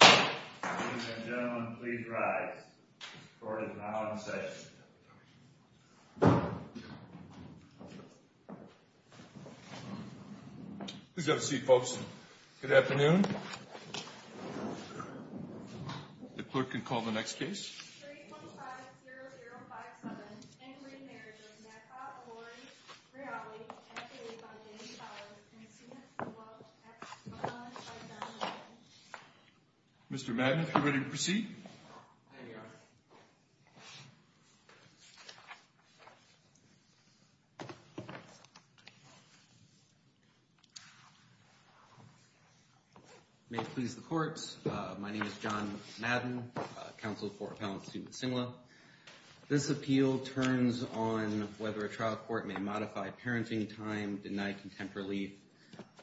Ladies and gentlemen, please rise. The court is now in session. Please have a seat, folks. Good afternoon. The court can call the next case. 315-0057, In re. Marriage of Nakba Lori Ryali, F.A.A. Funding College, and C.S. DeWalt, Ex. Mr. Madden, if you're ready to proceed. May it please the court. My name is John Madden, counsel for Appellant Stewart Cingla. This appeal turns on whether a trial court may modify parenting time, deny contempt relief,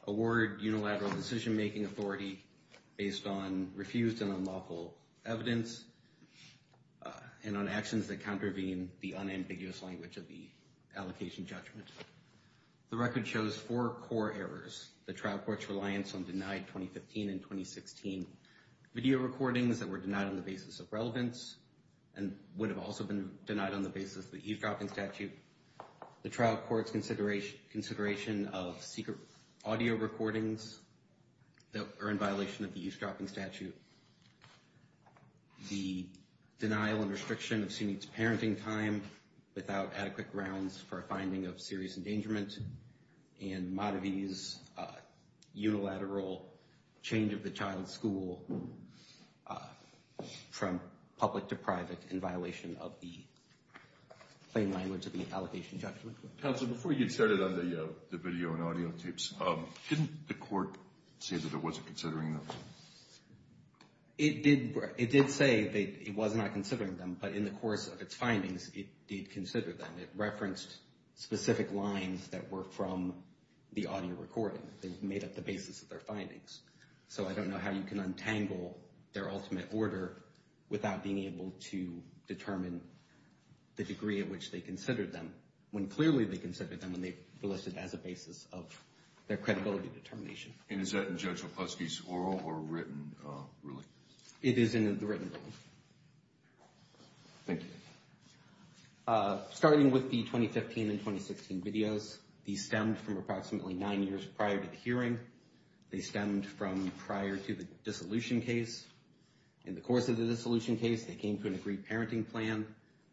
award unilateral decision-making authority based on refused and unlawful evidence, and on actions that contravene the unambiguous language of the allocation judgment. The record shows four core errors. The trial court's reliance on denied 2015 and 2016 video recordings that were denied on the basis of relevance and would have also been denied on the basis of the eavesdropping statute. The trial court's consideration of secret audio recordings that are in violation of the eavesdropping statute. The denial and restriction of SUNY's parenting time without adequate grounds for a finding of serious endangerment. And Maddie's unilateral change of the child's school from public to private in violation of the plain language of the allocation judgment. Counsel, before you started on the video and audio tapes, didn't the court say that it wasn't considering them? It did say that it was not considering them, but in the course of its findings, it did consider them. It referenced specific lines that were from the audio recording. They made up the basis of their findings. So I don't know how you can untangle their ultimate order without being able to determine the degree at which they considered them, when clearly they considered them and they listed it as a basis of their credibility determination. And is that in Judge Lepofsky's oral or written ruling? It is in the written ruling. Thank you. Starting with the 2015 and 2016 videos, these stemmed from approximately nine years prior to the hearing. They stemmed from prior to the dissolution case. In the course of the dissolution case, they came to an agreed parenting plan.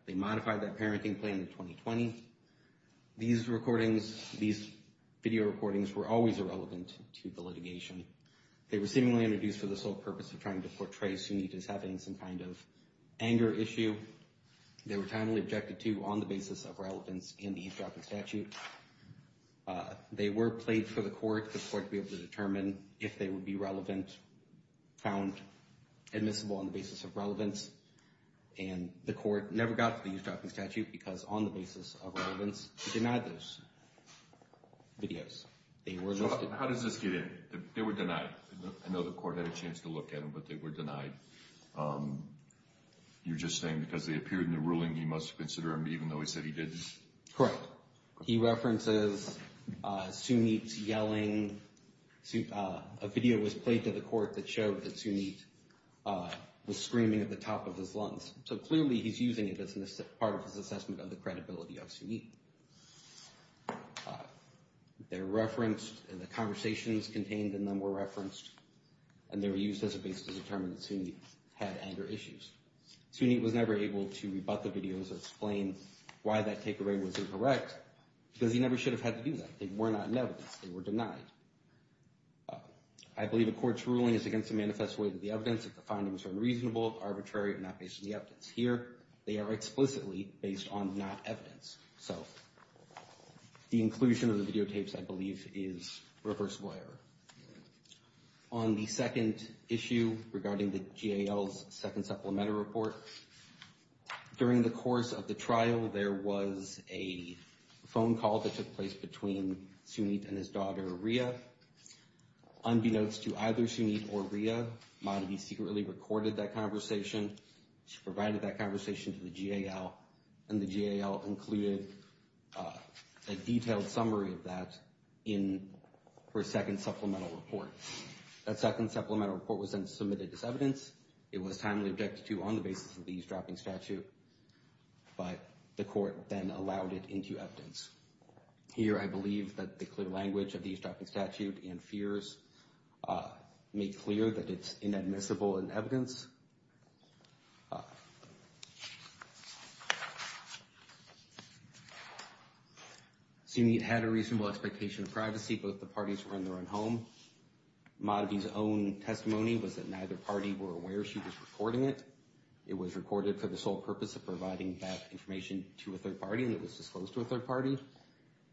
They modified that parenting plan in 2020. These recordings, these video recordings were always irrelevant to the litigation. They were seemingly introduced for the sole purpose of trying to portray Sunita as having some kind of anger issue. They were timely objected to on the basis of relevance in the eavesdropping statute. They were played for the court to be able to determine if they would be found admissible on the basis of relevance. And the court never got to the eavesdropping statute because on the basis of relevance, it denied those videos. How does this get in? They were denied. I know the court had a chance to look at them, but they were denied. You're just saying because they appeared in the ruling, he must consider them even though he said he didn't? Correct. He references Sunita yelling. A video was played to the court that showed that Sunita was screaming at the top of his lungs. So clearly he's using it as part of his assessment of the credibility of Sunita. They're referenced and the conversations contained in them were referenced. And they were used as a basis to determine that Sunita had anger issues. Sunita was never able to rebut the videos and explain why that takeaway was incorrect because he never should have had to do that. They were not in evidence. They were denied. I believe the court's ruling is against the manifest way that the evidence that the findings are unreasonable, arbitrary, not based on the evidence. Here, they are explicitly based on not evidence. So the inclusion of the videotapes, I believe, is reversible error. On the second issue regarding the GAL's second supplemental report, during the course of the trial, there was a phone call that took place between Sunita and his daughter, Rhea. Unbeknownst to either Sunita or Rhea, Madhavi secretly recorded that conversation. She provided that conversation to the GAL, and the GAL included a detailed summary of that in her second supplemental report. That second supplemental report was then submitted as evidence. It was timely objected to on the basis of the eavesdropping statute, but the court then allowed it into evidence. Here, I believe that the clear language of the eavesdropping statute and fears make clear that it's inadmissible in evidence. Sunita had a reasonable expectation of privacy. Both the parties were in their own home. Madhavi's own testimony was that neither party were aware she was recording it. It was recorded for the sole purpose of providing that information to a third party, and it was disclosed to a third party.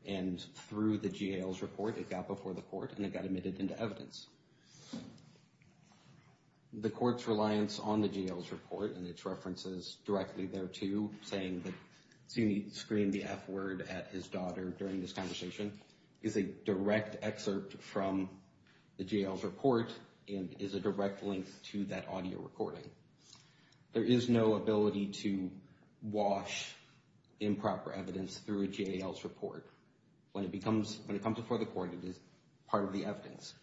And through the GAL's report, it got before the court, and it got admitted into evidence. The court's reliance on the GAL's report and its references directly thereto, saying that Sunita screamed the F word at his daughter during this conversation, is a direct excerpt from the GAL's report and is a direct link to that audio recording. There is no ability to wash improper evidence through a GAL's report. When it comes before the court, it is part of the evidence.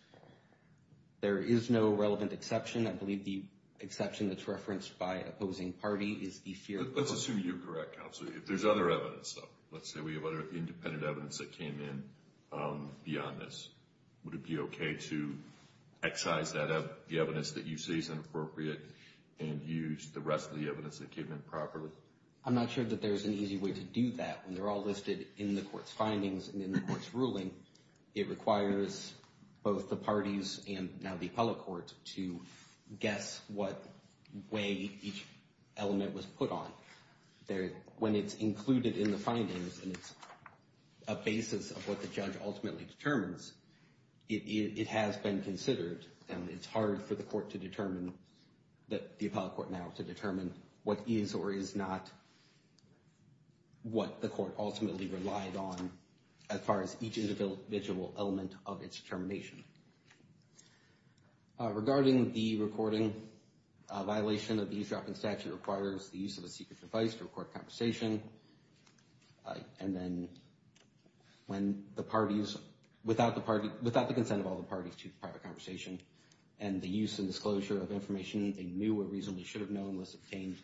There is no relevant exception. I believe the exception that's referenced by opposing party is the fear of— Let's assume you're correct, Counselor. If there's other evidence, though, let's say we have other independent evidence that came in beyond this, would it be okay to excise the evidence that you see as inappropriate and use the rest of the evidence that came in properly? I'm not sure that there's an easy way to do that. When they're all listed in the court's findings and in the court's ruling, it requires both the parties and now the appellate court to guess what way each element was put on. When it's included in the findings and it's a basis of what the judge ultimately determines, it has been considered, and it's hard for the court to determine— the appellate court now to determine what is or is not what the court ultimately relied on as far as each individual element of its determination. Regarding the recording, a violation of the eavesdropping statute requires the use of a secret device to record conversation, and then when the parties—without the consent of all the parties to private conversation and the use and disclosure of information they knew or reasonably should have known was obtained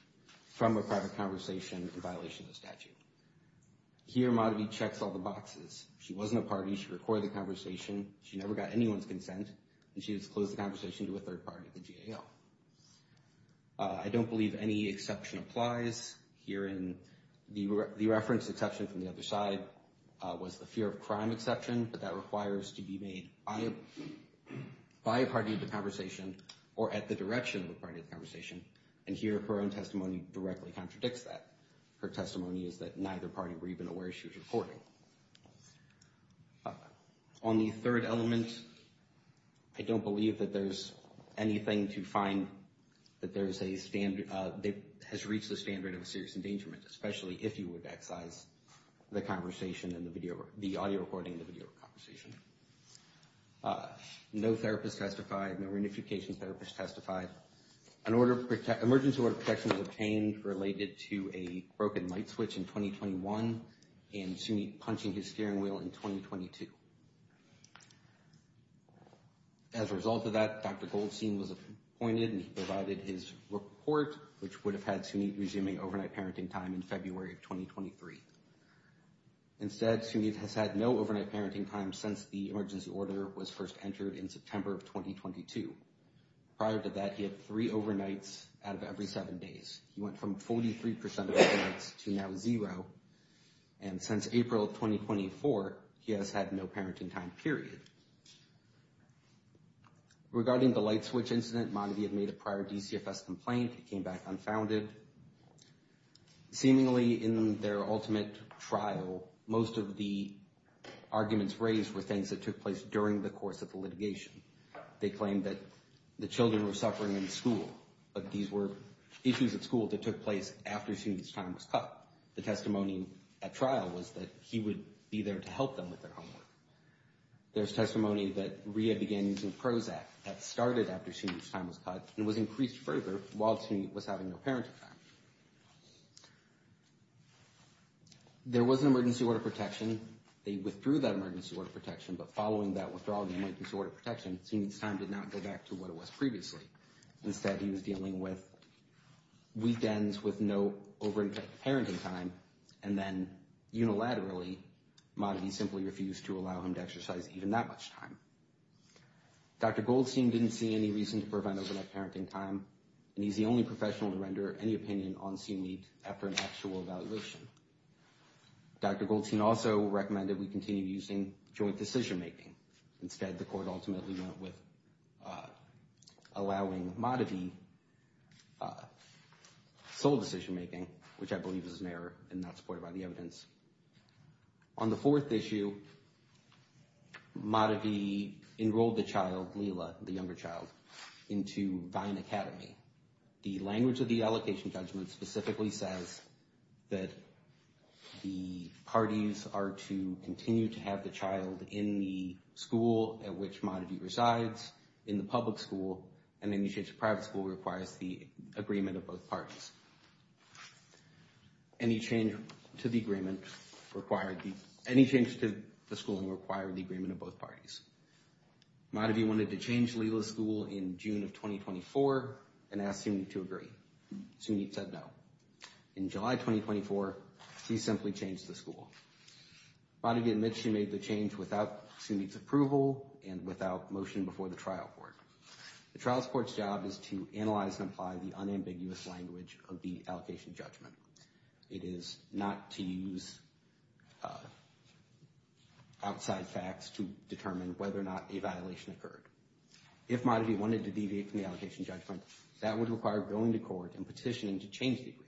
from a private conversation in violation of the statute. Here, Modity checks all the boxes. She wasn't a party. She recorded the conversation. She never got anyone's consent, and she disclosed the conversation to a third party, the GAO. I don't believe any exception applies herein. The reference exception from the other side was the fear of crime exception, but that requires to be made by a party of the conversation or at the direction of the party of the conversation, and here her own testimony directly contradicts that. Her testimony is that neither party were even aware she was recording. On the third element, I don't believe that there's anything to find that there's a standard— that has reached the standard of a serious endangerment, especially if you would excise the conversation and the video— the audio recording and the video conversation. No therapist testified. No reunification therapist testified. An emergency order of protection was obtained related to a broken light switch in 2021 and Sunit punching his steering wheel in 2022. As a result of that, Dr. Goldstein was appointed, and he provided his report, which would have had Sunit resuming overnight parenting time in February of 2023. Instead, Sunit has had no overnight parenting time since the emergency order was first entered in September of 2022. Prior to that, he had three overnights out of every seven days. He went from 43% of overnights to now zero, and since April of 2024, he has had no parenting time, period. Regarding the light switch incident, Montague made a prior DCFS complaint. It came back unfounded. Seemingly, in their ultimate trial, most of the arguments raised were things that took place during the course of the litigation. They claimed that the children were suffering in school, but these were issues at school that took place after Sunit's time was cut. The testimony at trial was that he would be there to help them with their homework. There's testimony that Rhea began using Prozac that started after Sunit's time was cut and was increased further while Sunit was having no parenting time. There was an emergency order of protection. They withdrew that emergency order of protection, but following that withdrawal of the emergency order of protection, Sunit's time did not go back to what it was previously. Instead, he was dealing with weekends with no overnight parenting time, and then unilaterally, Montague simply refused to allow him to exercise even that much time. Dr. Goldstein didn't see any reason to prevent overnight parenting time, and he's the only professional to render any opinion on Sunit after an actual evaluation. Dr. Goldstein also recommended we continue using joint decision-making. Instead, the court ultimately went with allowing Montague sole decision-making, which I believe is an error and not supported by the evidence. On the fourth issue, Montague enrolled the child, Lila, the younger child, into Vine Academy. The language of the allocation judgment specifically says that the parties are to continue to have the child in the school at which Montague resides, in the public school, and any change to private school requires the agreement of both parties. Any change to the school required the agreement of both parties. Montague wanted to change Lila's school in June of 2024, and asked Sunit to agree. Sunit said no. In July 2024, he simply changed the school. Montague admits she made the change without Sunit's approval and without motion before the trial court. The trial court's job is to analyze and apply the unambiguous language of the allocation judgment. It is not to use outside facts to determine whether or not a violation occurred. If Montague wanted to deviate from the allocation judgment, that would require going to court and petitioning to change the agreement.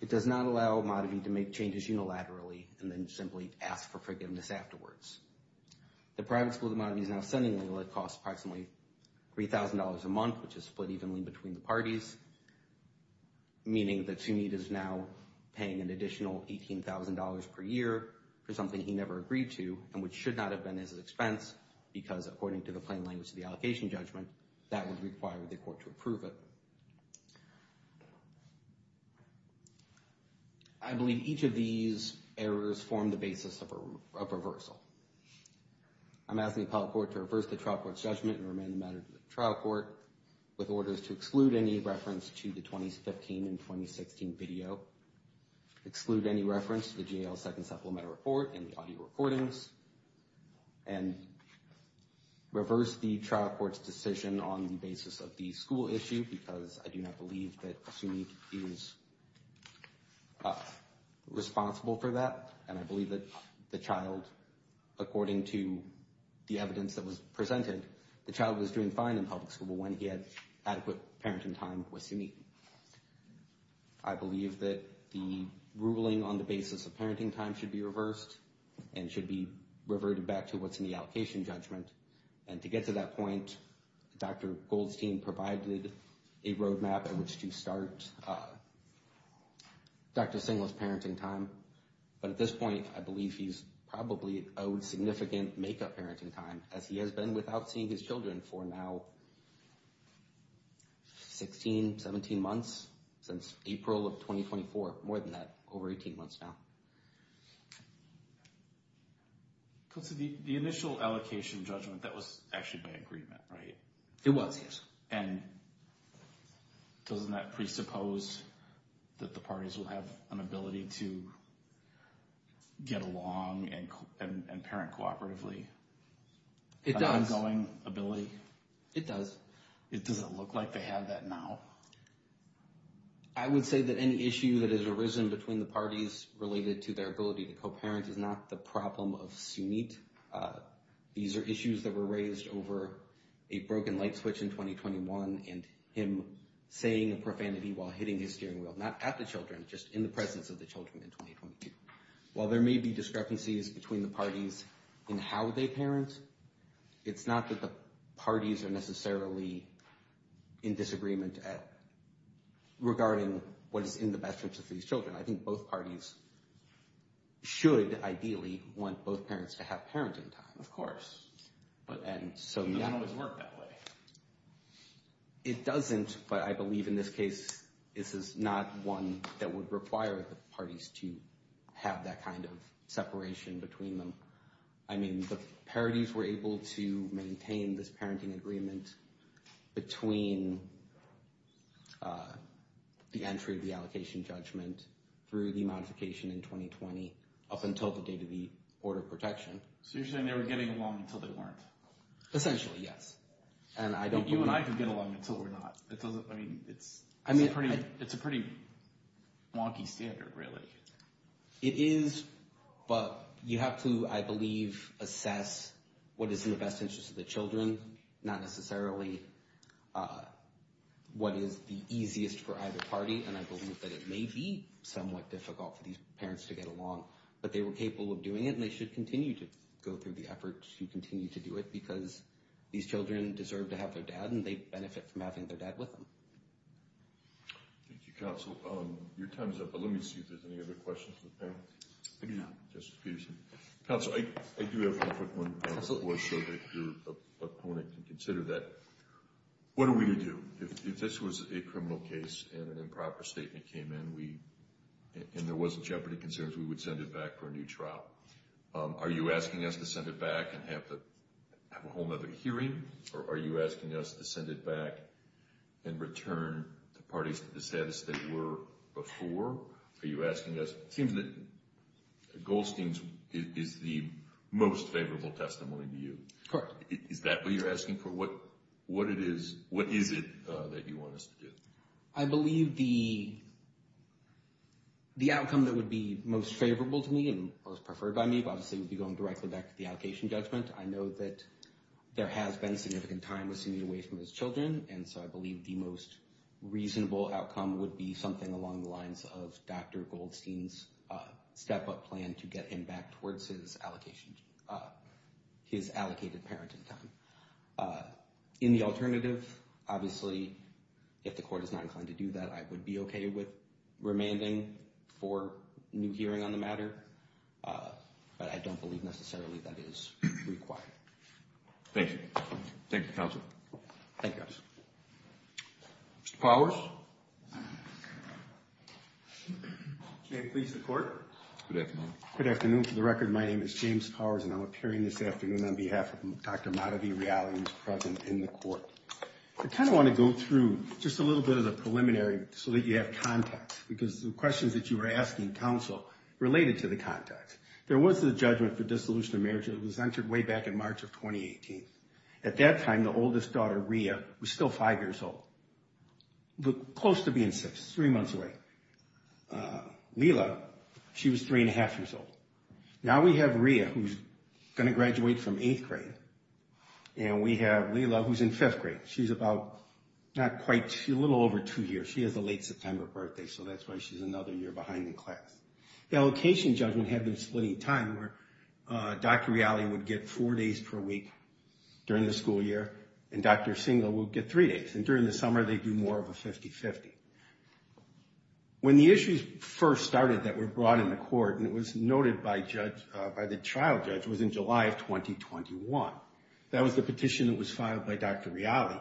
It does not allow Montague to make changes unilaterally and then simply ask for forgiveness afterwards. The private school that Montague is now sending Lila costs approximately $3,000 a month, which is split evenly between the parties, meaning that Sunit is now paying an additional $18,000 per year for something he never agreed to and which should not have been his expense because, according to the plain language of the allocation judgment, that would require the court to approve it. I believe each of these errors form the basis of a reversal. I'm asking the appellate court to reverse the trial court's judgment and remain the matter to the trial court with orders to exclude any reference to the 2015 and 2016 video, exclude any reference to the JL Second Supplemental Report and the audio recordings, and reverse the trial court's decision on the basis of the school issue because I do not believe that Sunit is responsible for that, and I believe that the child, according to the evidence that was presented, the child was doing fine in public school when he had adequate parenting time with Sunit. I believe that the ruling on the basis of parenting time should be reversed and should be reverted back to what's in the allocation judgment, and to get to that point, Dr. Goldstein provided a roadmap in which to start Dr. Singler's parenting time, but at this point, I believe he's probably owed significant make-up parenting time, as he has been without seeing his children for now 16, 17 months, since April of 2024, more than that, over 18 months now. So the initial allocation judgment, that was actually by agreement, right? It was, yes. And doesn't that presuppose that the parties will have an ability to get along and parent cooperatively? It does. An ongoing ability? It does. Does it look like they have that now? I would say that any issue that has arisen between the parties related to their ability to co-parent is not the problem of Sunit. These are issues that were raised over a broken light switch in 2021 and him saying a profanity while hitting his steering wheel, not at the children, just in the presence of the children in 2022. While there may be discrepancies between the parties in how they parent, it's not that the parties are necessarily in disagreement regarding what is in the best interest of these children. I think both parties should ideally want both parents to have parenting time. Of course. It doesn't always work that way. It doesn't, but I believe in this case, this is not one that would require the parties to have that kind of separation between them. I mean, the parities were able to maintain this parenting agreement between the entry of the allocation judgment through the modification in 2020, up until the date of the order of protection. So you're saying they were getting along until they weren't? Essentially, yes. You and I could get along until we're not. I mean, it's a pretty wonky standard, really. It is, but you have to, I believe, assess what is in the best interest of the children, not necessarily what is the easiest for either party. And I believe that it may be somewhat difficult for these parents to get along, but they were capable of doing it, and they should continue to go through the effort to continue to do it, because these children deserve to have their dad, and they benefit from having their dad with them. Thank you, Counsel. Your time is up, but let me see if there's any other questions from the panel. Maybe not. Counsel, I do have one quick one. Absolutely. Your opponent can consider that. What are we going to do? If this was a criminal case and an improper statement came in and there wasn't jeopardy concerns, we would send it back for a new trial. Are you asking us to send it back and have a whole other hearing, or are you asking us to send it back and return the parties to the status they were before? Are you asking us? It seems that Goldstein's is the most favorable testimony to you. Correct. Is that what you're asking for? What is it that you want us to do? I believe the outcome that would be most favorable to me and most preferred by me, obviously, would be going directly back to the allocation judgment. I know that there has been significant time with sending it away from his children, and so I believe the most reasonable outcome would be something along the lines of Dr. Goldstein's step-up plan and to get him back towards his allocated parenting time. In the alternative, obviously, if the court is not inclined to do that, I would be okay with remanding for a new hearing on the matter, but I don't believe necessarily that is required. Thank you. Thank you, counsel. Thank you. Mr. Powers? May it please the court? Good afternoon. Good afternoon. For the record, my name is James Powers, and I'm appearing this afternoon on behalf of Dr. Madhavi Rayali, who is present in the court. I kind of want to go through just a little bit of the preliminary so that you have context, because the questions that you were asking, counsel, related to the context. There was a judgment for dissolution of marriage that was entered way back in March of 2018. At that time, the oldest daughter, Rhea, was still 5 years old. Close to being 6, three months away. Leila, she was 3-1⁄2 years old. Now we have Rhea, who's going to graduate from eighth grade, and we have Leila, who's in fifth grade. She's a little over two years. She has a late September birthday, so that's why she's another year behind in class. The allocation judgment had been split in time, where Dr. Rayali would get four days per week during the school year, and Dr. Singel would get three days. And during the summer, they'd do more of a 50-50. When the issues first started that were brought in the court, and it was noted by the trial judge, was in July of 2021. That was the petition that was filed by Dr. Rayali,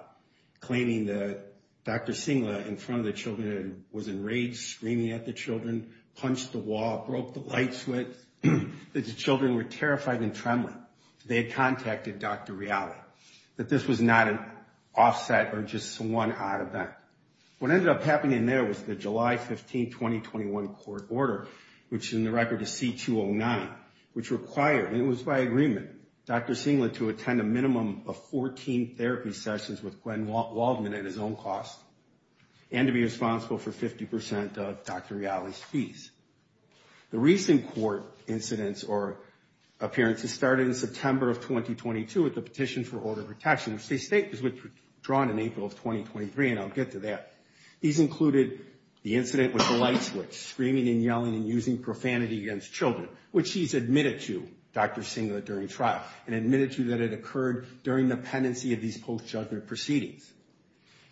claiming that Dr. Singel, in front of the children, was enraged, screaming at the children, punched the wall, broke the light switch, that the children were terrified and trembling. They had contacted Dr. Rayali, that this was not an offset or just one odd event. What ended up happening there was the July 15, 2021 court order, which is in the record as C-209, which required, and it was by agreement, Dr. Singel to attend a minimum of 14 therapy sessions with Gwen Waldman at his own cost, and to be responsible for 50% of Dr. Rayali's fees. The recent court incidents or appearances started in September of 2022 with the petition for order of protection. It was withdrawn in April of 2023, and I'll get to that. These included the incident with the light switch, screaming and yelling and using profanity against children, which he's admitted to, Dr. Singel, during trial, and admitted to that it occurred during the pendency of these post-judgment proceedings.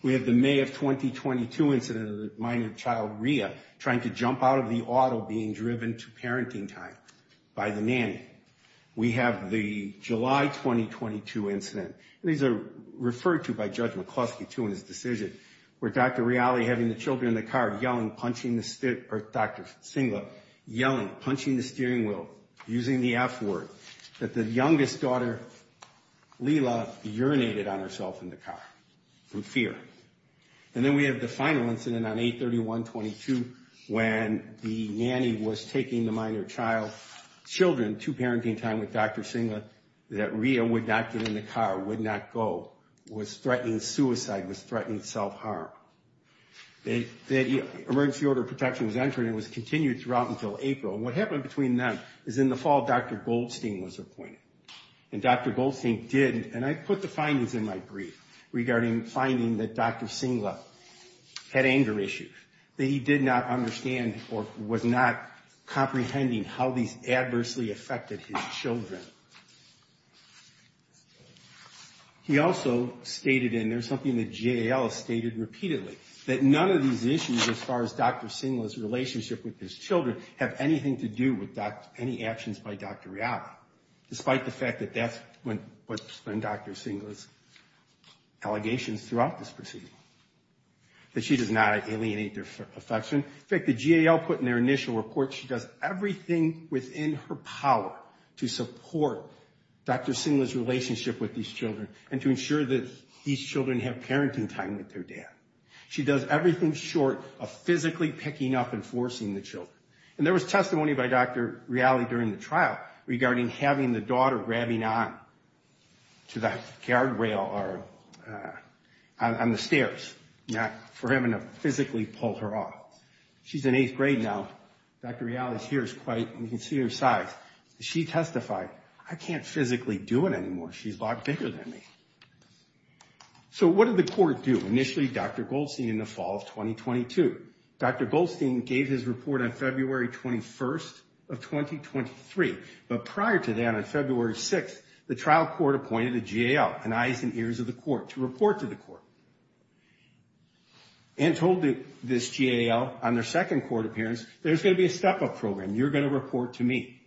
We have the May of 2022 incident of the minor child, Rhea, trying to jump out of the auto being driven to parenting time by the nanny. We have the July 2022 incident, and these are referred to by Judge McCluskey, too, in his decision, where Dr. Rayali having the children in the car yelling, punching the, or Dr. Singel yelling, punching the steering wheel, using the F word, that the youngest daughter, Lila, urinated on herself in the car from fear. And then we have the final incident on 8-31-22, when the nanny was taking the minor child's children to parenting time with Dr. Singel, that Rhea would not get in the car, would not go, was threatening suicide, was threatening self-harm. The emergency order of protection was entered, and it was continued throughout until April. And what happened between them is in the fall, Dr. Goldstein was appointed. And Dr. Goldstein did, and I put the findings in my brief, regarding finding that Dr. Singel had anger issues, that he did not understand or was not comprehending how these adversely affected his children. He also stated, and there's something that J.L. stated repeatedly, that none of these issues, as far as Dr. Singel's relationship with his children, have anything to do with any actions by Dr. Rayali, despite the fact that that's what's been Dr. Singel's allegations throughout this proceeding, that she does not alienate their affection. In fact, the GAL put in their initial report she does everything within her power to support Dr. Singel's relationship with these children and to ensure that these children have parenting time with their dad. She does everything short of physically picking up and forcing the children. And there was testimony by Dr. Rayali during the trial regarding having the daughter grabbing on to the guardrail or on the stairs for having to physically pull her up. She's in eighth grade now. Dr. Rayali's here. You can see her size. She testified, I can't physically do it anymore. She's a lot bigger than me. So what did the court do? Initially, Dr. Goldstein in the fall of 2022. Dr. Goldstein gave his report on February 21st of 2023. But prior to that, on February 6th, the trial court appointed a GAL, an eyes and ears of the court, to report to the court. And told this GAL on their second court appearance, there's going to be a step-up program. You're going to report to me.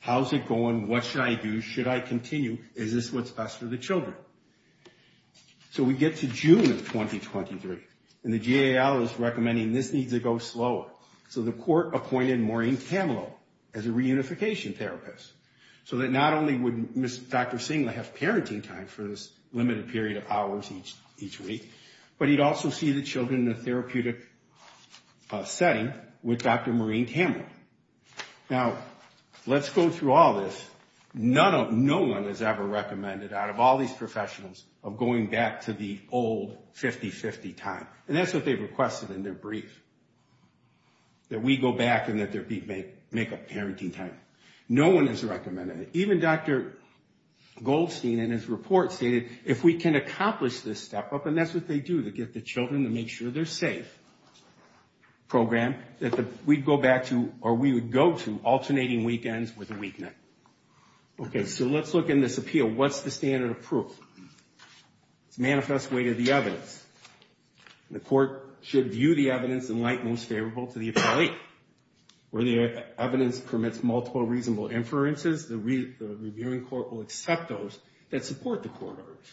How's it going? What should I do? Should I continue? Is this what's best for the children? So we get to June of 2023. And the GAL is recommending this needs to go slower. So the court appointed Maureen Camelot as a reunification therapist. So that not only would Dr. Singla have parenting time for this limited period of hours each week, but he'd also see the children in a therapeutic setting with Dr. Maureen Camelot. Now, let's go through all this. None of, no one has ever recommended, out of all these professionals, of going back to the old 50-50 time. And that's what they requested in their brief. That we go back and that they make up parenting time. No one has recommended it. Even Dr. Goldstein in his report stated, if we can accomplish this step-up, and that's what they do, they get the children to make sure they're safe. Program that we'd go back to, or we would go to, Okay, so let's look in this appeal. What's the standard of proof? It's manifest way to the evidence. The court should view the evidence in light most favorable to the appellate. Where the evidence permits multiple reasonable inferences, the reviewing court will accept those that support the court orders.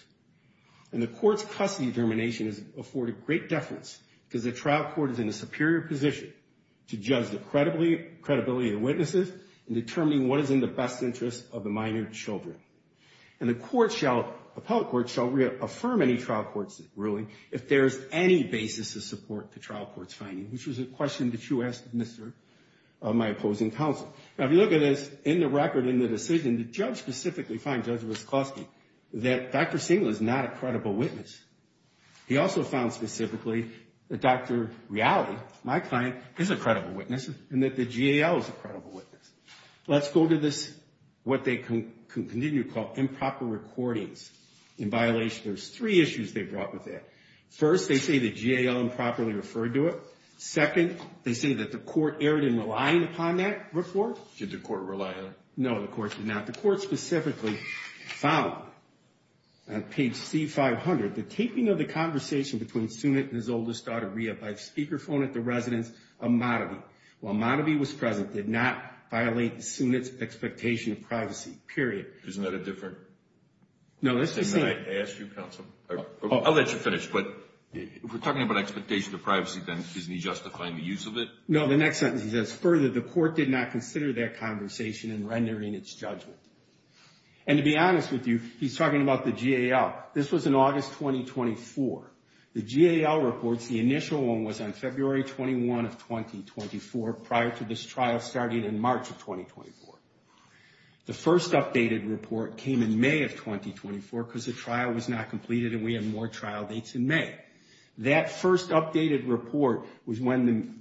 And the court's custody determination is afforded great deference because the trial court is in a superior position to judge the credibility of the witnesses in determining what is in the best interest of the minor children. And the appellate court shall reaffirm any trial court's ruling if there's any basis to support the trial court's finding, which was a question that you asked, Mr., my opposing counsel. Now, if you look at this, in the record, in the decision, the judge specifically fined Judge Wiskoski that Dr. Singel is not a credible witness. He also found specifically that Dr. Riali, my client, is a credible witness and that the GAL is a credible witness. Let's go to this, what they continue to call improper recordings. In violation, there's three issues they brought with that. First, they say the GAL improperly referred to it. Second, they say that the court erred in relying upon that report. Did the court rely on it? No, the court did not. The court specifically found on page C500, the taping of the conversation between Sunit and his oldest daughter Ria by speakerphone at the residence of Motivey. While Motivey was present, did not violate Sunit's expectation of privacy, period. Isn't that a different thing that I asked you, counsel? I'll let you finish, but if we're talking about expectation of privacy, then isn't he justifying the use of it? No, the next sentence he says, further the court did not consider that conversation in rendering its judgment. And to be honest with you, he's talking about the GAL. This was in August 2024. The GAL reports, the initial one was on February 21 of 2024, prior to this trial starting in March of 2024. The first updated report came in May of 2024 because the trial was not completed and we had more trial dates in May. That first updated report was when the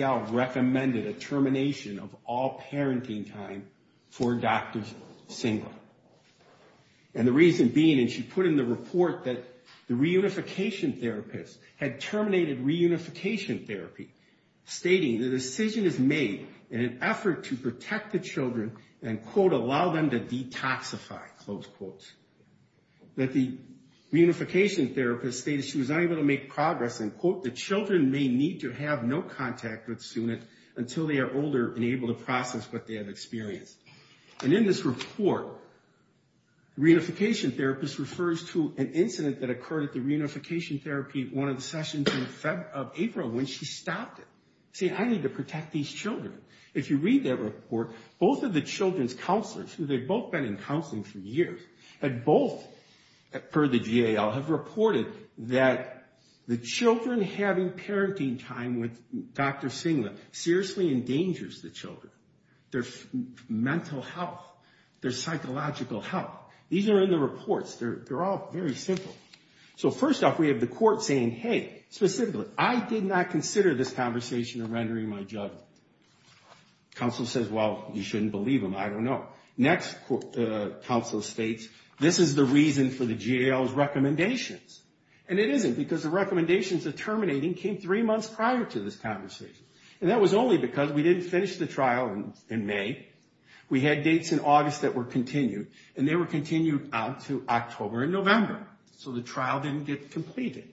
GAL recommended a termination of all parenting time for doctors single. And the reason being, and she put in the report that the reunification therapist had terminated reunification therapy, stating the decision is made in an effort to protect the children and, quote, allow them to detoxify, close quote. That the reunification therapist stated she was unable to make progress and, quote, the children may need to have no contact with Sunit until they are older and able to process what they have experienced. And in this report, reunification therapist refers to an incident that occurred at the reunification therapy one of the sessions in April when she stopped it, saying I need to protect these children. If you read that report, both of the children's counselors, who they'd both been in counseling for years, had both, per the GAL, have reported that the children having parenting time with Dr. Singlet seriously endangers the children. Their mental health, their psychological health. These are in the reports. They're all very simple. So first off, we have the court saying, hey, specifically, I did not consider this conversation a rendering my judgment. Counsel says, well, you shouldn't believe him. I don't know. Next, counsel states, this is the reason for the GAL's recommendations. And it isn't because the recommendations of terminating came three months prior to this conversation. And that was only because we didn't finish the trial in May. We had dates in August that were continued, and they were continued out to October and November. So the trial didn't get completed.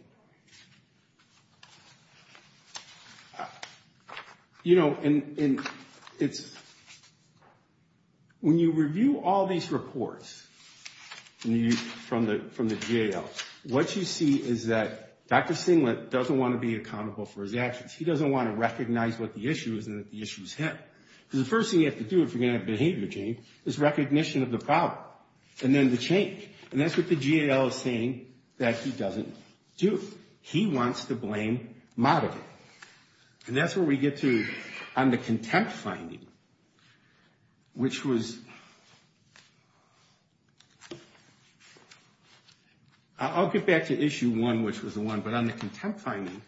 When you review all these reports from the GAL, what you see is that Dr. Singlet doesn't want to be accountable for his actions. He doesn't want to recognize what the issue is and that the issue is him. Because the first thing you have to do if you're going to have behavior change is recognition of the problem and then the change. And that's what the GAL is saying that he doesn't do. He wants to blame moderate. And that's where we get to on the contempt finding, which was – I'll get back to issue one, which was the one. But on the contempt finding,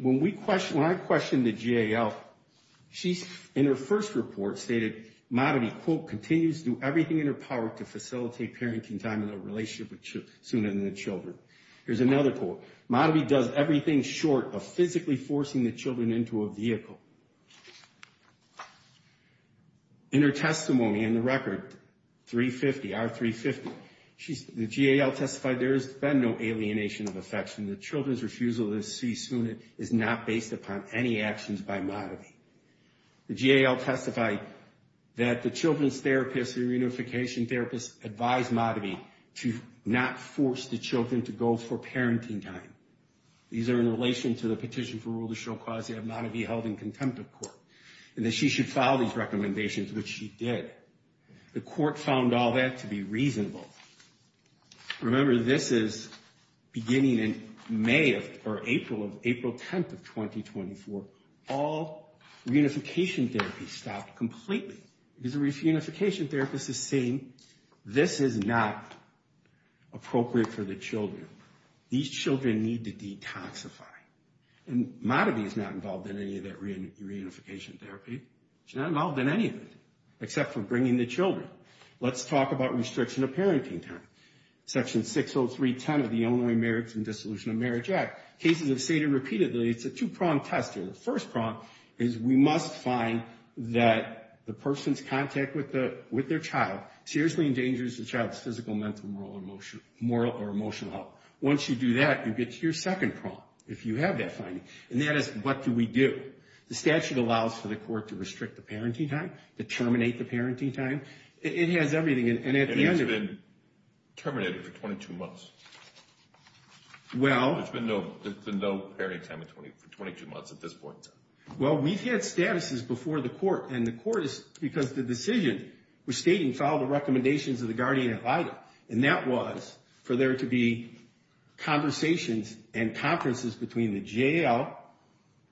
when I questioned the GAL, she, in her first report, stated, Modaby, quote, continues to do everything in her power to facilitate parenting time in a relationship sooner than the children. Here's another quote. Modaby does everything short of physically forcing the children into a vehicle. In her testimony in the record, 350, R350, the GAL testified there has been no alienation of affection. The children's refusal to see soon is not based upon any actions by Modaby. The GAL testified that the children's therapist, the reunification therapist, advised Modaby to not force the children to go for parenting time. These are in relation to the petition for rule to show cause that Modaby held in contempt of court. And that she should follow these recommendations, which she did. The court found all that to be reasonable. Remember, this is beginning in May of – or April of – April 10th of 2024. All reunification therapy stopped completely because the reunification therapist is saying this is not appropriate for the children. These children need to detoxify. And Modaby is not involved in any of that reunification therapy. She's not involved in any of it except for bringing the children. Let's talk about restriction of parenting time. Section 60310 of the Illinois Marriage and Dissolution of Marriage Act. Cases have stated repeatedly it's a two-pronged test here. The first prong is we must find that the person's contact with their child seriously endangers the child's physical, mental, moral, or emotional health. Once you do that, you get to your second prong if you have that finding. And that is what do we do? The statute allows for the court to restrict the parenting time, to terminate the parenting time. It has everything. And at the end of it – And it's been terminated for 22 months. Well – There's been no parenting time for 22 months at this point. Well, we've had statuses before the court. And the court is – because the decision was stating follow the recommendations of the guardian ad litem. And that was for there to be conversations and conferences between the J.L.,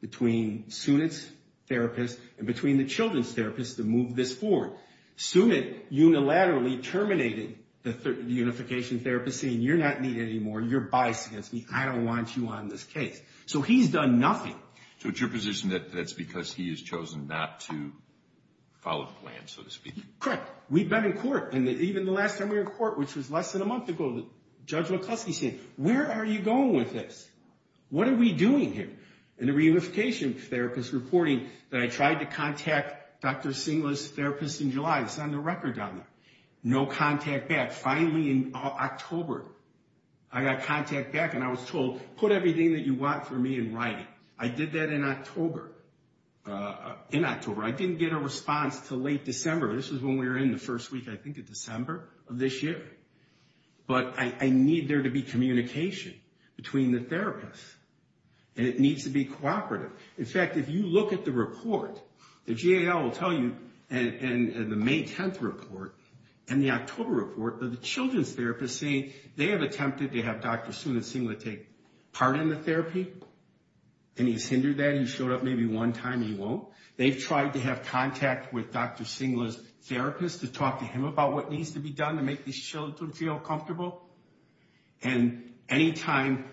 between Sunit's therapist, and between the children's therapist to move this forward. Sunit unilaterally terminated the unification therapy, saying you're not needed anymore. You're biased against me. I don't want you on this case. So he's done nothing. So it's your position that that's because he has chosen not to follow the plan, so to speak? Correct. We've been in court. And even the last time we were in court, which was less than a month ago, Judge McCluskey said, where are you going with this? What are we doing here? And the reunification therapist reporting that I tried to contact Dr. Singler's therapist in July. It's on the record down there. No contact back. Finally, in October, I got contact back, and I was told, put everything that you want for me in writing. I did that in October. In October. I didn't get a response until late December. This was when we were in the first week, I think, of December of this year. But I need there to be communication between the therapists. And it needs to be cooperative. In fact, if you look at the report, the GAL will tell you, and the May 10th report, and the October report, that the children's therapist is saying they have attempted to have Dr. Sundar Singler take part in the therapy, and he's hindered that. He showed up maybe one time. He won't. They've tried to have contact with Dr. Singler's therapist to talk to him about what needs to be done to make these children feel comfortable. And any time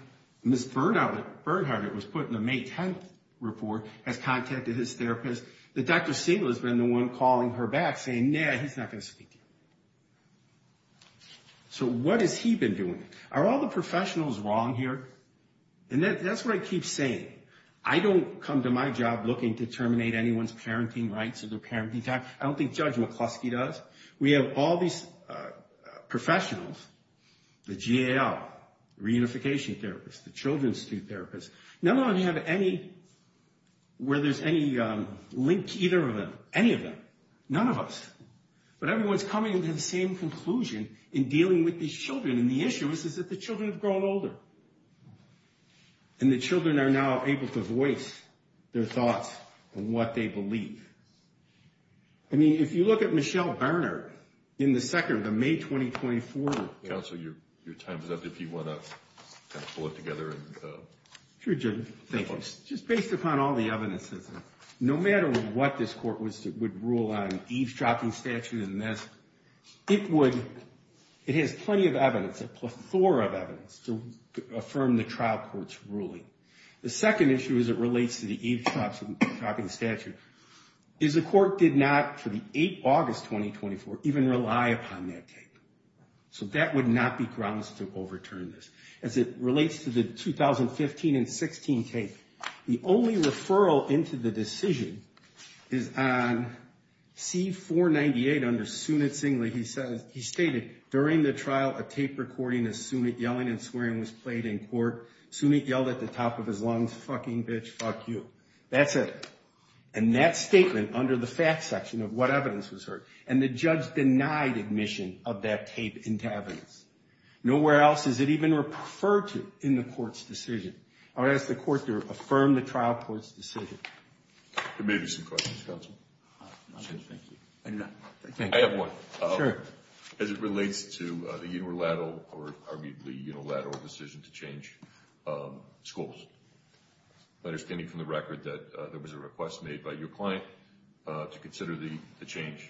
Ms. Bernhardt was put in the May 10th report, has contacted his therapist, that Dr. Singler's been the one calling her back saying, nah, he's not going to speak to you. So what has he been doing? Are all the professionals wrong here? And that's what I keep saying. I don't come to my job looking to terminate anyone's parenting rights or their parenting time. I don't think Judge McCluskey does. We have all these professionals, the GAL, reunification therapists, the Children's Institute therapists. None of them have any where there's any link to either of them, any of them. None of us. But everyone's coming to the same conclusion in dealing with these children, and the issue is that the children have grown older. And the children are now able to voice their thoughts and what they believe. I mean, if you look at Michelle Bernhardt in the second of the May 2024. Counsel, your time is up if you want to pull it together. Sure, Judge. Thank you. Just based upon all the evidence, no matter what this court would rule on eavesdropping statute and this, it would, it has plenty of evidence, a plethora of evidence to affirm the trial court's ruling. The second issue as it relates to the eavesdropping statute is the court did not, for the 8th August 2024, even rely upon that tape. So that would not be grounds to overturn this. As it relates to the 2015 and 16 tape, the only referral into the decision is on C-498 under Sunit Singley. He stated, during the trial, a tape recording of Sunit yelling and swearing was played in court. Sunit yelled at the top of his lungs, fucking bitch, fuck you. That's it. And that statement under the fact section of what evidence was heard, and the judge denied admission of that tape into evidence. Nowhere else is it even referred to in the court's decision. I would ask the court to affirm the trial court's decision. There may be some questions, Counsel. I have one. Sure. As it relates to the unilateral or arguably unilateral decision to change schools, understanding from the record that there was a request made by your client to consider the change,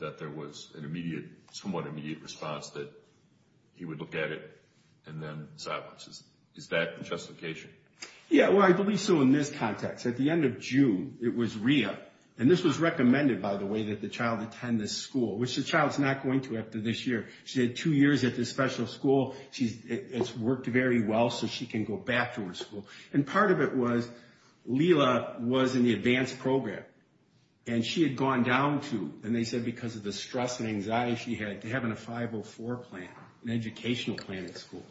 that there was an immediate, somewhat immediate response that he would look at it and then silence it. Is that the justification? Yeah, well, I believe so in this context. At the end of June, it was re-up. And this was recommended, by the way, that the child attend this school, which the child's not going to after this year. She had two years at this special school. It's worked very well so she can go back to her school. And part of it was Lela was in the advanced program, and she had gone down to, and they said because of the stress and anxiety she had, to having a 504 plan, an educational plan at school.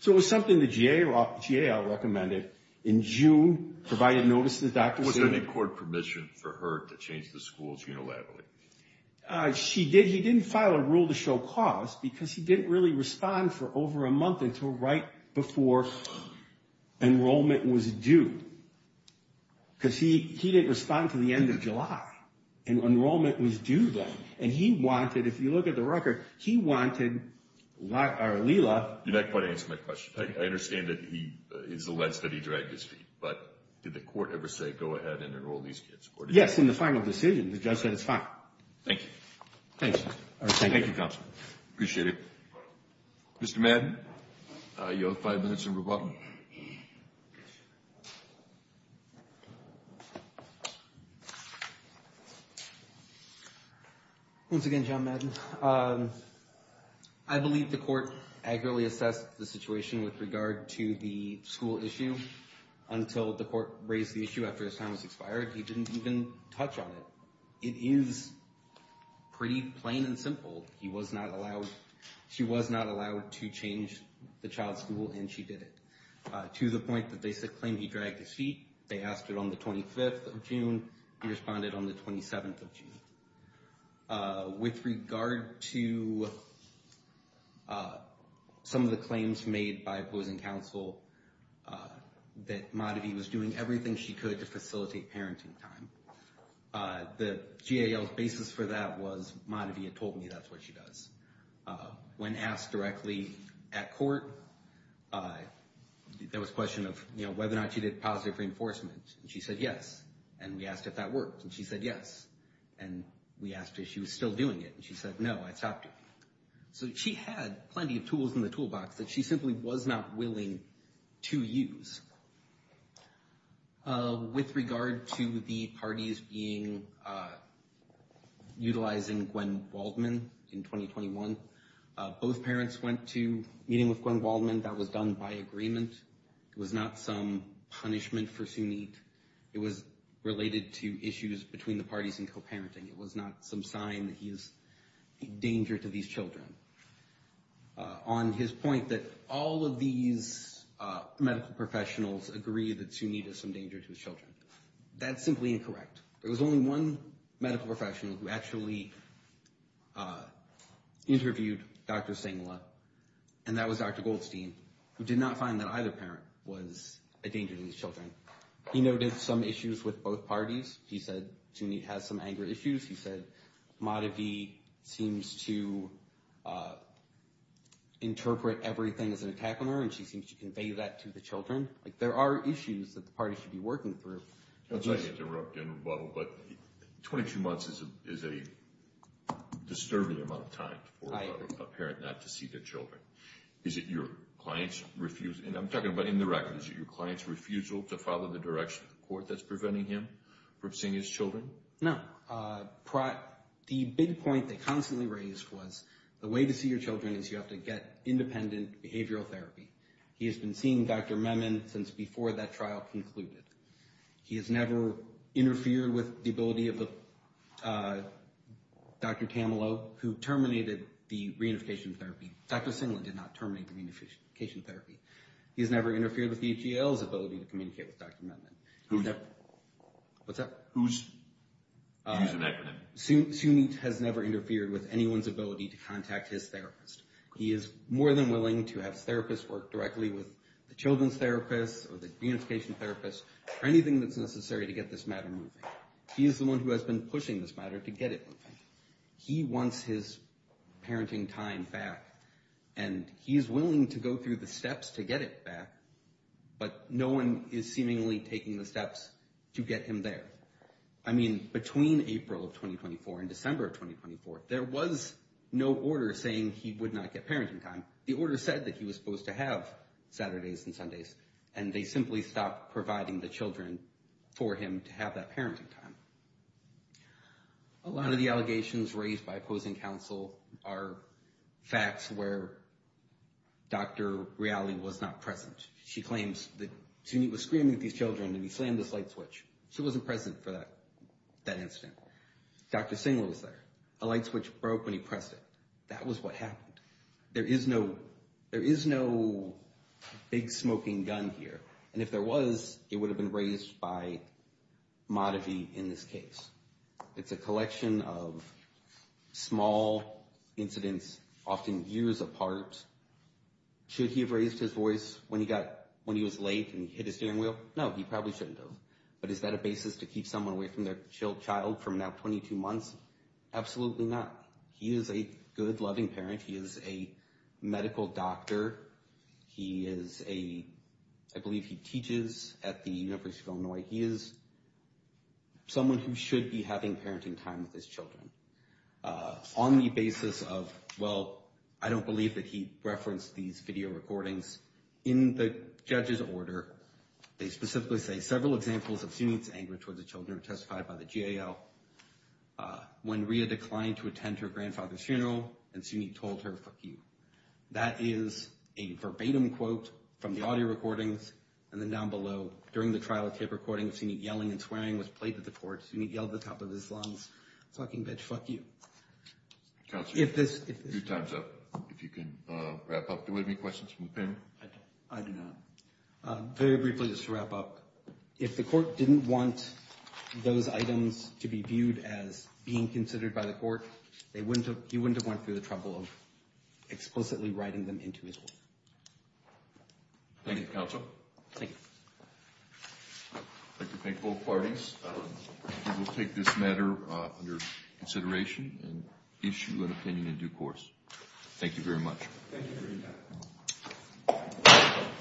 So it was something the GAO recommended in June, provided notice to Dr. Sunit. Was there any court permission for her to change the schools unilaterally? She did. He didn't file a rule to show cause because he didn't really respond for over a month until right before enrollment was due because he didn't respond to the end of July, and enrollment was due then. And he wanted, if you look at the record, he wanted Lela. You're not quite answering my question. I understand that he is the less that he dragged his feet, but did the court ever say go ahead and enroll these kids? Yes, in the final decision, the judge said it's fine. Thank you. Thanks. Thank you, Counsel. Appreciate it. Mr. Madden, you have five minutes to rebuttal. Once again, John Madden, I believe the court accurately assessed the situation with regard to the school issue until the court raised the issue after his time was expired. He didn't even touch on it. It is pretty plain and simple. He was not allowed, she was not allowed to change the child's school, and she did it, to the point that they said he dragged his feet. They asked it on the 25th of June. He responded on the 27th of June. With regard to some of the claims made by opposing counsel, that Maddie was doing everything she could to facilitate parenting time, the GAL's basis for that was Maddie had told me that's what she does. When asked directly at court, there was a question of whether or not she did positive reinforcement. She said yes, and we asked if that worked, and she said yes. And we asked if she was still doing it, and she said no, I stopped her. So she had plenty of tools in the toolbox that she simply was not willing to use. With regard to the parties utilizing Gwen Waldman in 2021, both parents went to a meeting with Gwen Waldman that was done by agreement. It was not some punishment for Sunit. It was related to issues between the parties in co-parenting. It was not some sign that he is a danger to these children. On his point that all of these medical professionals agree that Sunit is some danger to his children, that's simply incorrect. There was only one medical professional who actually interviewed Dr. Singla, and that was Dr. Goldstein, who did not find that either parent was a danger to his children. He noted some issues with both parties. He said Sunit has some anger issues. He said Madhavi seems to interpret everything as an attack on her, and she seems to convey that to the children. Like there are issues that the parties should be working through. I'm sorry to interrupt, General Butler, but 22 months is a disturbing amount of time for a parent not to see their children. Is it your client's refusal, and I'm talking about indirectly, is it your client's refusal to follow the direction of the court that's preventing him from seeing his children? No. The big point they constantly raised was the way to see your children is you have to get independent behavioral therapy. He has been seeing Dr. Memon since before that trial concluded. He has never interfered with the ability of Dr. Camelot, who terminated the reunification therapy. Dr. Singleton did not terminate the reunification therapy. He has never interfered with DGL's ability to communicate with Dr. Memon. Who's that? What's that? Who's an acronym? Sunit has never interfered with anyone's ability to contact his therapist. He is more than willing to have his therapist work directly with the children's therapist or the reunification therapist or anything that's necessary to get this matter moving. He is the one who has been pushing this matter to get it moving. He wants his parenting time back, and he's willing to go through the steps to get it back, but no one is seemingly taking the steps to get him there. I mean, between April of 2024 and December of 2024, there was no order saying he would not get parenting time. The order said that he was supposed to have Saturdays and Sundays, and they simply stopped providing the children for him to have that parenting time. A lot of the allegations raised by opposing counsel are facts where Dr. Reality was not present. She claims that Sunit was screaming at these children, and he slammed this light switch. She wasn't present for that incident. Dr. Singleton was there. A light switch broke when he pressed it. That was what happened. There is no big smoking gun here, and if there was, it would have been raised by Madhavi in this case. It's a collection of small incidents, often years apart. Should he have raised his voice when he was late and hit his steering wheel? No, he probably shouldn't have. But is that a basis to keep someone away from their child from now 22 months? Absolutely not. He is a good, loving parent. He is a medical doctor. He is a – I believe he teaches at the University of Illinois. He is someone who should be having parenting time with his children on the basis of, well, I don't believe that he referenced these video recordings. In the judge's order, they specifically say, several examples of Sunit's anger towards the children are testified by the GAO. When Rhea declined to attend her grandfather's funeral and Sunit told her, That is a verbatim quote from the audio recordings, and then down below, during the trial tape recordings, Sunit yelling and swearing was played to the court. Sunit yelled at the top of his lungs, Fucking bitch, fuck you. Counselor, your time's up. If you can wrap up, do we have any questions from the panel? I do not. Very briefly, just to wrap up, if the court didn't want those items to be viewed as being considered by the court, he wouldn't have went through the trouble of explicitly writing them into his will. Thank you, Counsel. Thank you. I'd like to thank both parties. We will take this matter under consideration and issue an opinion in due course. Thank you very much. Thank you for your time.